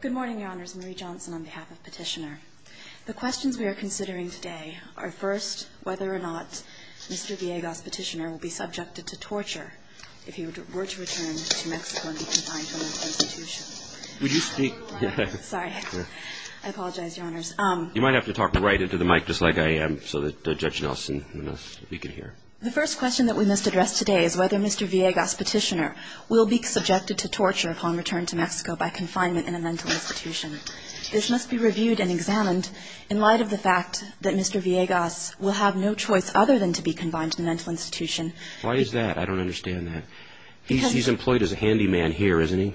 Good morning, Your Honors. Marie Johnson on behalf of Petitioner. The questions we are considering today are first, whether or not Mr. Villegas, Petitioner, will be subjected to torture if he were to return to Mexico and be confined to an institution. Would you speak? Sorry. I apologize, Your Honors. You might have to talk right into the mic just like I am so that Judge Nelson, we can hear. The first question that we must address today is whether Mr. Villegas, Petitioner, will be subjected to torture upon return to Mexico by confinement in a mental institution. This must be reviewed and examined in light of the fact that Mr. Villegas will have no choice other than to be confined to a mental institution. Why is that? I don't understand that. He's employed as a handyman here, isn't he?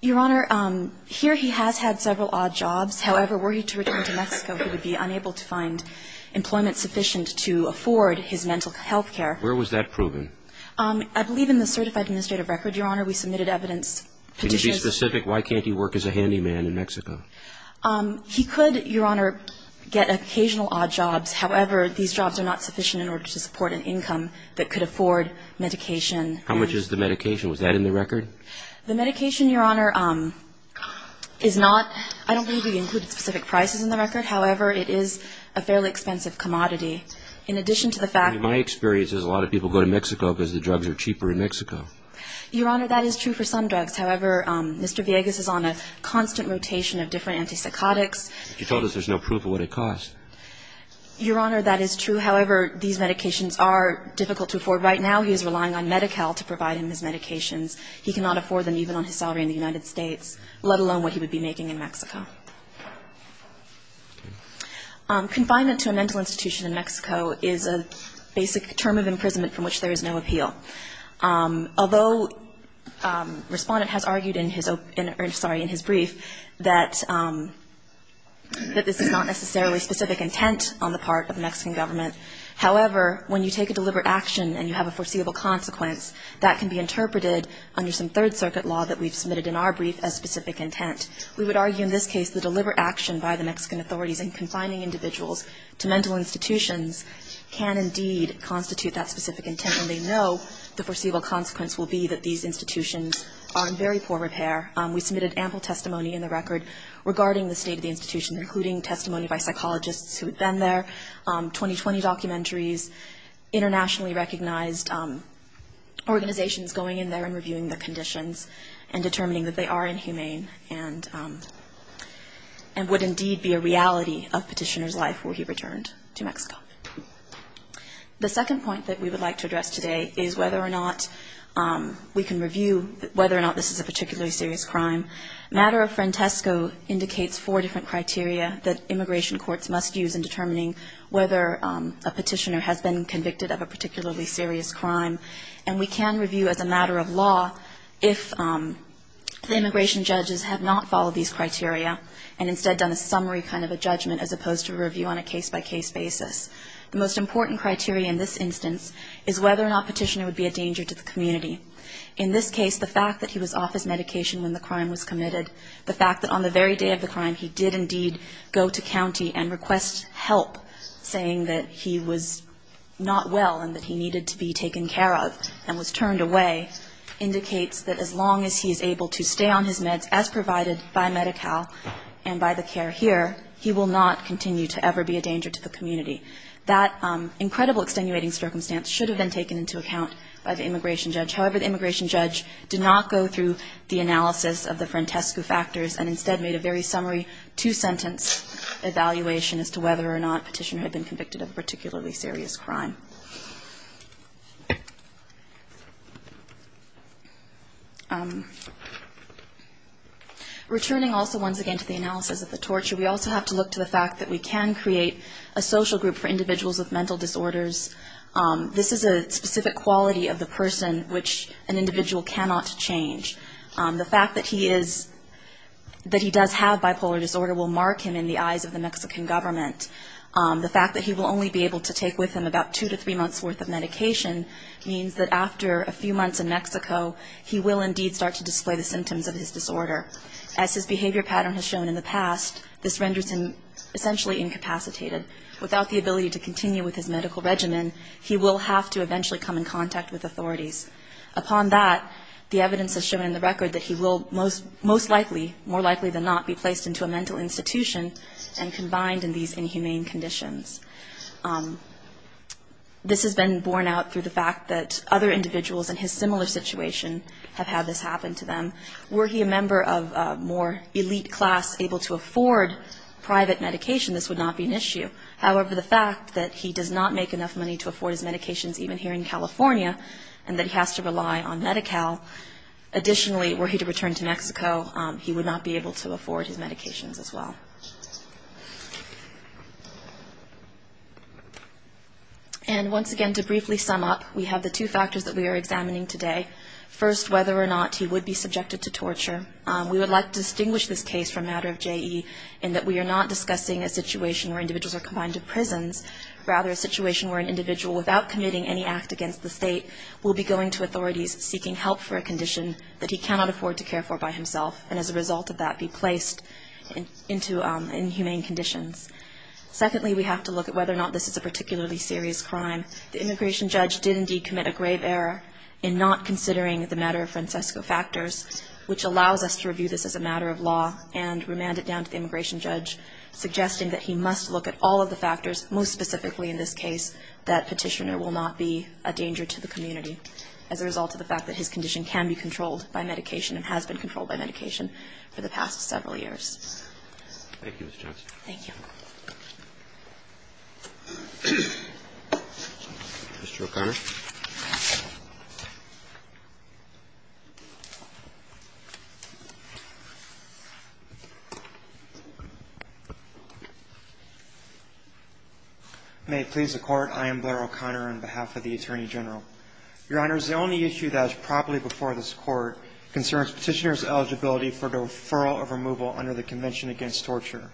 Your Honor, here he has had several odd jobs. However, were he to return to Mexico, he would be unable to find employment sufficient to afford his mental health care. Where was that proven? I believe in the certified administrative record, Your Honor. We submitted evidence. Can you be specific? Why can't he work as a handyman in Mexico? He could, Your Honor, get occasional odd jobs. However, these jobs are not sufficient in order to support an income that could afford medication. The medication, Your Honor, is not, I don't believe we included specific prices in the record. However, it is a fairly expensive commodity. In addition to the fact that In my experience, a lot of people go to Mexico because the drugs are cheaper in Mexico. Your Honor, that is true for some drugs. However, Mr. Villegas is on a constant rotation of different antipsychotics. You told us there's no proof of what it costs. Your Honor, that is true. However, these medications are difficult to afford. Right now he is relying on Medi-Cal to provide him his medications. He cannot afford them even on his salary in the United States, let alone what he would be making in Mexico. Confinement to a mental institution in Mexico is a basic term of imprisonment from which there is no appeal. Although Respondent has argued in his brief that this is not necessarily specific intent on the part of the Mexican government, however, when you take a deliberate action and you have a foreseeable consequence, that can be interpreted under some Third Circuit law that we've submitted in our brief as specific intent. We would argue in this case the deliberate action by the Mexican authorities in confining individuals to mental institutions can indeed constitute that specific intent, and they know the foreseeable consequence will be that these institutions are in very poor repair. We submitted ample testimony in the record regarding the state of the institution, including testimony by psychologists who had been there, 2020 documentaries, internationally recognized organizations going in there and reviewing their conditions and determining that they are inhumane and would indeed be a reality of Petitioner's life were he returned to Mexico. The second point that we would like to address today is whether or not we can review whether or not this is a particularly serious crime. Matter of Frantesco indicates four different criteria that immigration courts must use in determining whether a Petitioner has been convicted of a particularly serious crime, and we can review as a matter of law if the immigration judges have not followed these criteria and instead done a summary kind of a judgment as opposed to a review on a case-by-case basis. The most important criteria in this instance is whether or not Petitioner would be a danger to the community. In this case, the fact that he was off his medication when the crime was committed, the fact that on the very day of the crime he did indeed go to county and request help, saying that he was not well and that he needed to be taken care of and was turned away, indicates that as long as he is able to stay on his meds as provided by Medi-Cal and by the care here, he will not continue to ever be a danger to the community. That incredible extenuating circumstance should have been taken into account by the immigration judge. However, the immigration judge did not go through the analysis of the Frantesco factors and instead made a very summary two-sentence evaluation as to whether or not Petitioner had been convicted of a particularly serious crime. Returning also once again to the analysis of the torture, we also have to look to the fact that we can create a social group for individuals with mental disorders. This is a specific quality of the person which an individual cannot change. The fact that he does have bipolar disorder will mark him in the eyes of the Mexican government. The fact that he will only be able to take with him about two to three months' worth of medication means that after a few months in Mexico, he will indeed start to display the symptoms of his disorder. As his behavior pattern has shown in the past, this renders him essentially incapacitated. Without the ability to continue with his medical regimen, he will have to eventually come in contact with authorities. Upon that, the evidence has shown in the record that he will most likely, more likely than not, be placed into a mental institution and combined in these inhumane conditions. This has been borne out through the fact that other individuals in his similar situation have had this happen to them. Were he a member of a more elite class able to afford private medication, this would not be an issue. However, the fact that he does not make enough money to afford his medications even here in California and that he has to rely on Medi-Cal, additionally, were he to return to Mexico, he would not be able to afford his medications as well. And once again, to briefly sum up, we have the two factors that we are examining today. First, whether or not he would be subjected to torture. We would like to distinguish this case from a matter of JE in that we are not discussing a situation where individuals are confined to prisons, rather a situation where an individual without committing any act against the state will be going to authorities seeking help for a condition that he cannot afford to care for by himself and as a result of that be placed into inhumane conditions. Secondly, we have to look at whether or not this is a particularly serious crime. The immigration judge did indeed commit a grave error in not considering the matter of Francesco factors, which allows us to review this as a matter of law and remand it down to the immigration judge, suggesting that he must look at all of the factors, most specifically in this case, that Petitioner will not be a danger to the community as a result of the fact that his condition can be controlled by medication and has been controlled by medication for the past several years. Thank you, Ms. Johnson. Thank you. Mr. O'Connor. May it please the Court. I am Blair O'Connor on behalf of the Attorney General. Your Honor, the only issue that is properly before this Court concerns Petitioner's eligibility for the referral of removal under the Convention Against Torture.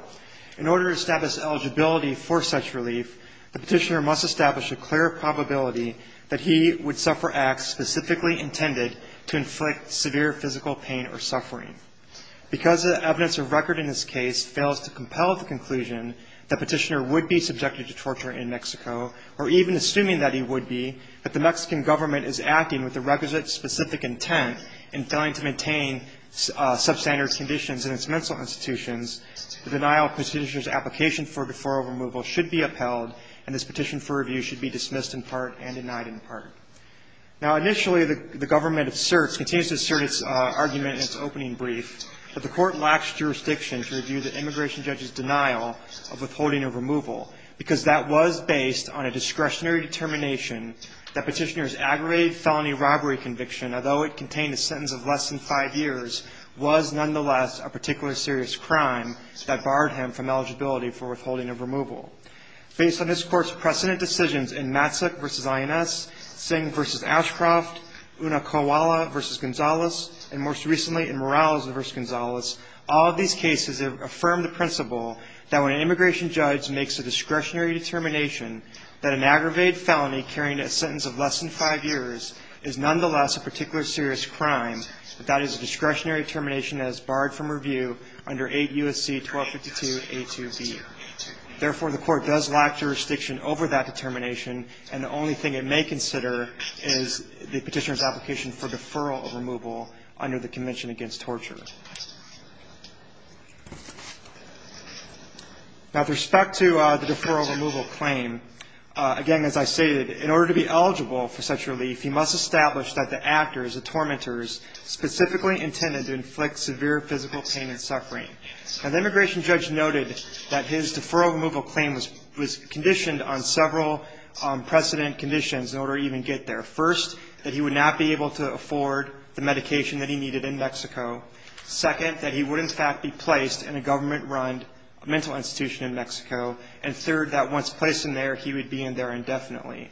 In order to establish eligibility for such relief, the Petitioner must establish a clear probability that he would suffer acts specifically intended to inflict severe physical pain or suffering. Because the evidence of record in this case fails to compel the conclusion that Petitioner would be subjected to torture in Mexico, or even assuming that he would be, that the Mexican government is acting with the requisite specific intent in failing to maintain substandard conditions in its mental institutions, the denial of Petitioner's application for referral removal should be upheld, and this petition for review should be dismissed in part and denied in part. Now, initially, the government asserts, continues to assert its argument in its opening brief that the Court lacks jurisdiction to review the immigration judge's denial of withholding a removal, because that was based on a discretionary determination that Petitioner's aggravated felony robbery conviction, although it contained a sentence of less than five years, was nonetheless a particularly serious crime that barred him from eligibility for withholding of removal. Based on this Court's precedent decisions in Matsuk v. INS, Singh v. Ashcroft, Unakowala v. Gonzalez, and most recently in Morales v. Gonzalez, all of these cases affirm the principle that when an immigration judge makes a discretionary determination that an aggravated felony carrying a sentence of less than five years is nonetheless a particularly serious crime, that that is a discretionary determination that is barred from review under 8 U.S.C. 1252a2b. Therefore, the Court does lack jurisdiction over that determination, and the only thing it may consider is the Petitioner's application for deferral of removal under the Convention Against Torture. Now, with respect to the deferral of removal claim, again, as I stated, in order to be eligible for such relief, he must establish that the actors, the tormentors, specifically intended to inflict severe physical pain and suffering. Now, the immigration judge noted that his deferral of removal claim was conditioned on several precedent conditions in order to even get there. First, that he would not be able to afford the medication that he needed in Mexico. Second, that he would, in fact, be placed in a government-run mental institution in Mexico. And third, that once placed in there, he would be in there indefinitely.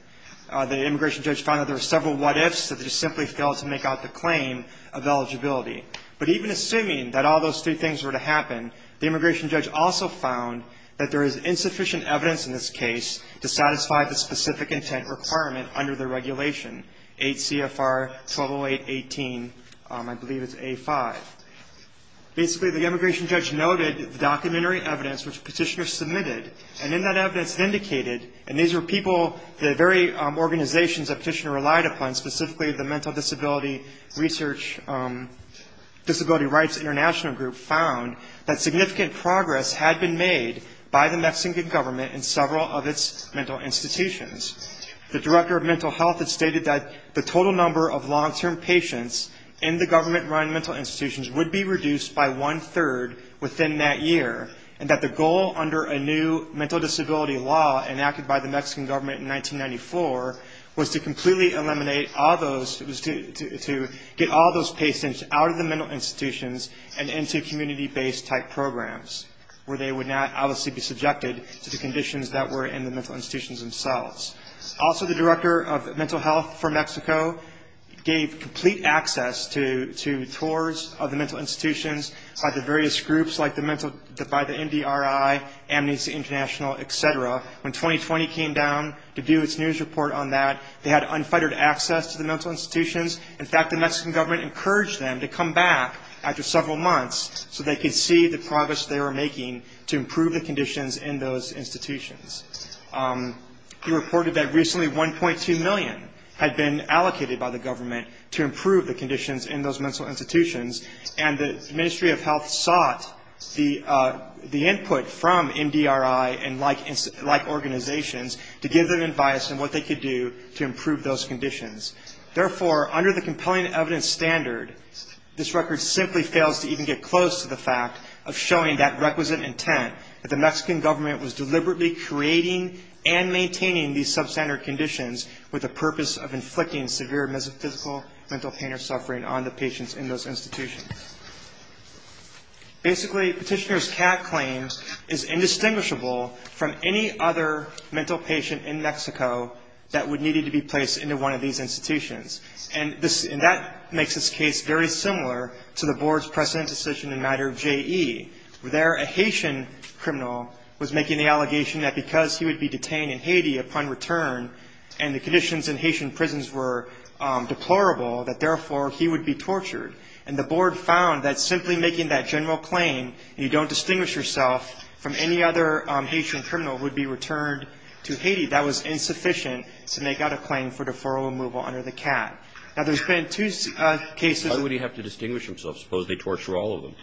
The immigration judge found that there were several what-ifs that he simply failed to make out the claim of eligibility. But even assuming that all those three things were to happen, the immigration judge also found that there is insufficient evidence in this case to satisfy the specific intent requirement under the regulation, 8 CFR 1208.18, I believe it's A5. Basically, the immigration judge noted the documentary evidence which Petitioner submitted, and in that evidence it indicated, and these were people, the very organizations that Petitioner relied upon, specifically the Mental Disability Research, Disability Rights International Group, found that significant progress had been made by the Mexican government in several of its mental institutions. The director of mental health had stated that the total number of long-term patients in the government-run mental institutions would be reduced by one-third within that year, and that the goal under a new mental disability law enacted by the Mexican government in 1994 was to completely eliminate all those, it was to get all those patients out of the mental institutions and into community-based type programs, where they would not obviously be subjected to the conditions that were in the mental institutions themselves. Also, the director of mental health for Mexico gave complete access to tours of the mental institutions by the various groups, like the mental, by the MDRI, Amnesty International, et cetera. When 2020 came down to do its news report on that, they had unfettered access to the mental institutions. In fact, the Mexican government encouraged them to come back after several months so they could see the progress they were making to improve the conditions in those institutions. He reported that recently 1.2 million had been allocated by the government to improve the conditions in those mental institutions, and the Ministry of Health sought the input from MDRI and like organizations to give them advice on what they could do to improve those conditions. Therefore, under the compelling evidence standard, this record simply fails to even get close to the fact of showing that requisite intent that the Mexican government was deliberately creating and maintaining these substandard conditions with the purpose of inflicting severe physical, mental pain or suffering on the patients in those institutions. Basically, Petitioner's cat claims is indistinguishable from any other mental patient in Mexico that would need to be placed into one of these institutions. And that makes this case very similar to the board's precedent decision in matter of JE. There, a Haitian criminal was making the allegation that because he would be detained in Haiti upon return and the conditions in Haitian prisons were deplorable, that therefore he would be tortured. And the board found that simply making that general claim, you don't distinguish yourself from any other Haitian criminal who would be returned to Haiti. That was insufficient to make out a claim for deferral removal under the cat. Now, there's been two cases. Why would he have to distinguish himself? Suppose they torture all of them.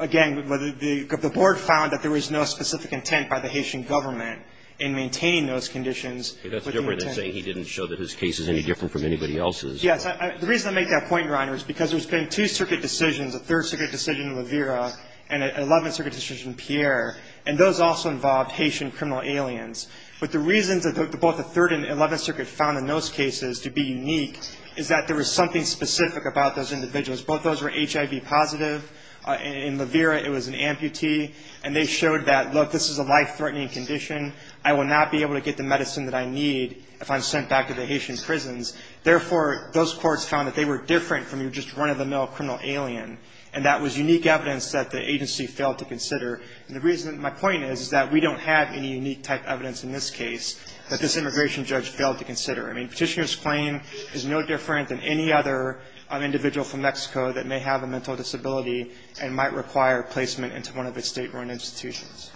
Again, the board found that there was no specific intent by the Haitian government in maintaining those conditions. That's different than saying he didn't show that his case is any different from anybody else's. Yes. The reason I make that point, Your Honor, is because there's been two circuit decisions, a third circuit decision in Levera and an 11th circuit decision in Pierre, and those also involved Haitian criminal aliens. But the reasons that both the third and 11th circuit found in those cases to be unique is that there was something specific about those individuals. Both of those were HIV positive. In Levera, it was an amputee. And they showed that, look, this is a life-threatening condition. I will not be able to get the medicine that I need if I'm sent back to the Haitian prisons. Therefore, those courts found that they were different from your just run-of-the-mill criminal alien. And that was unique evidence that the agency failed to consider. And the reason my point is, is that we don't have any unique type evidence in this case that this immigration judge failed to consider. I mean, Petitioner's claim is no different than any other individual from Mexico that may have a mental disability and might require placement into one of its state-run institutions.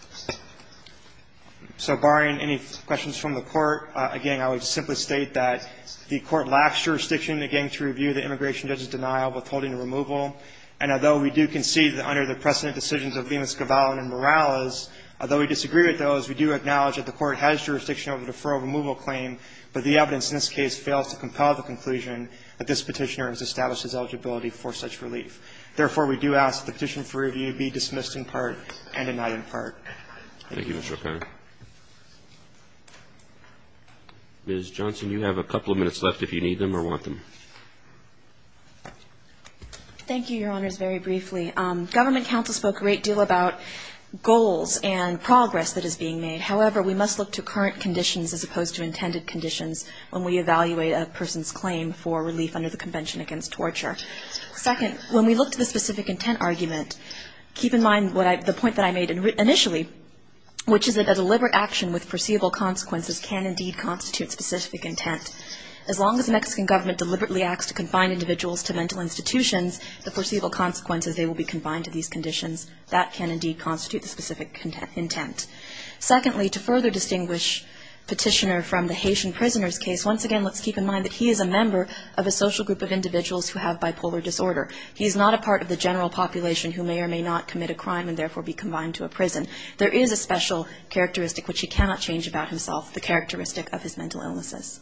So barring any questions from the Court, again, I would simply state that the Court lacks jurisdiction, again, to review the immigration judge's denial of withholding a removal. And although we do concede that under the precedent decisions of Lima-Scavalli and Morales, although we disagree with those, we do acknowledge that the Court has jurisdiction over the deferral removal claim. But the evidence in this case fails to compel the conclusion that this Petitioner has established his eligibility for such relief. Therefore, we do ask that the petition for review be dismissed in part and denied in part. Thank you, Mr. O'Connor. Ms. Johnson, you have a couple of minutes left if you need them or want them. Thank you, Your Honors, very briefly. Government counsel spoke a great deal about goals and progress that is being made. However, we must look to current conditions as opposed to intended conditions when we evaluate a person's claim for relief under the Convention Against Torture. Second, when we look to the specific intent argument, keep in mind the point that I made initially, which is that a deliberate action with perceivable consequences can indeed constitute specific intent. As long as the Mexican government deliberately acts to confine individuals to mental institutions, the perceivable consequences, they will be confined to these conditions. That can indeed constitute the specific intent. Secondly, to further distinguish Petitioner from the Haitian prisoner's case, once again, let's keep in mind that he is a member of a social group of individuals who have bipolar disorder. He is not a part of the general population who may or may not commit a crime and therefore be confined to a prison. There is a special characteristic which he cannot change about himself, the characteristic of his mental illnesses.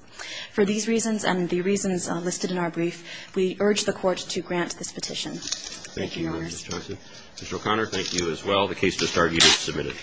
For these reasons and the reasons listed in our brief, we urge the Court to grant this petition. Thank you, Your Honors. Roberts. Mr. O'Connor, thank you as well. The case is submitted.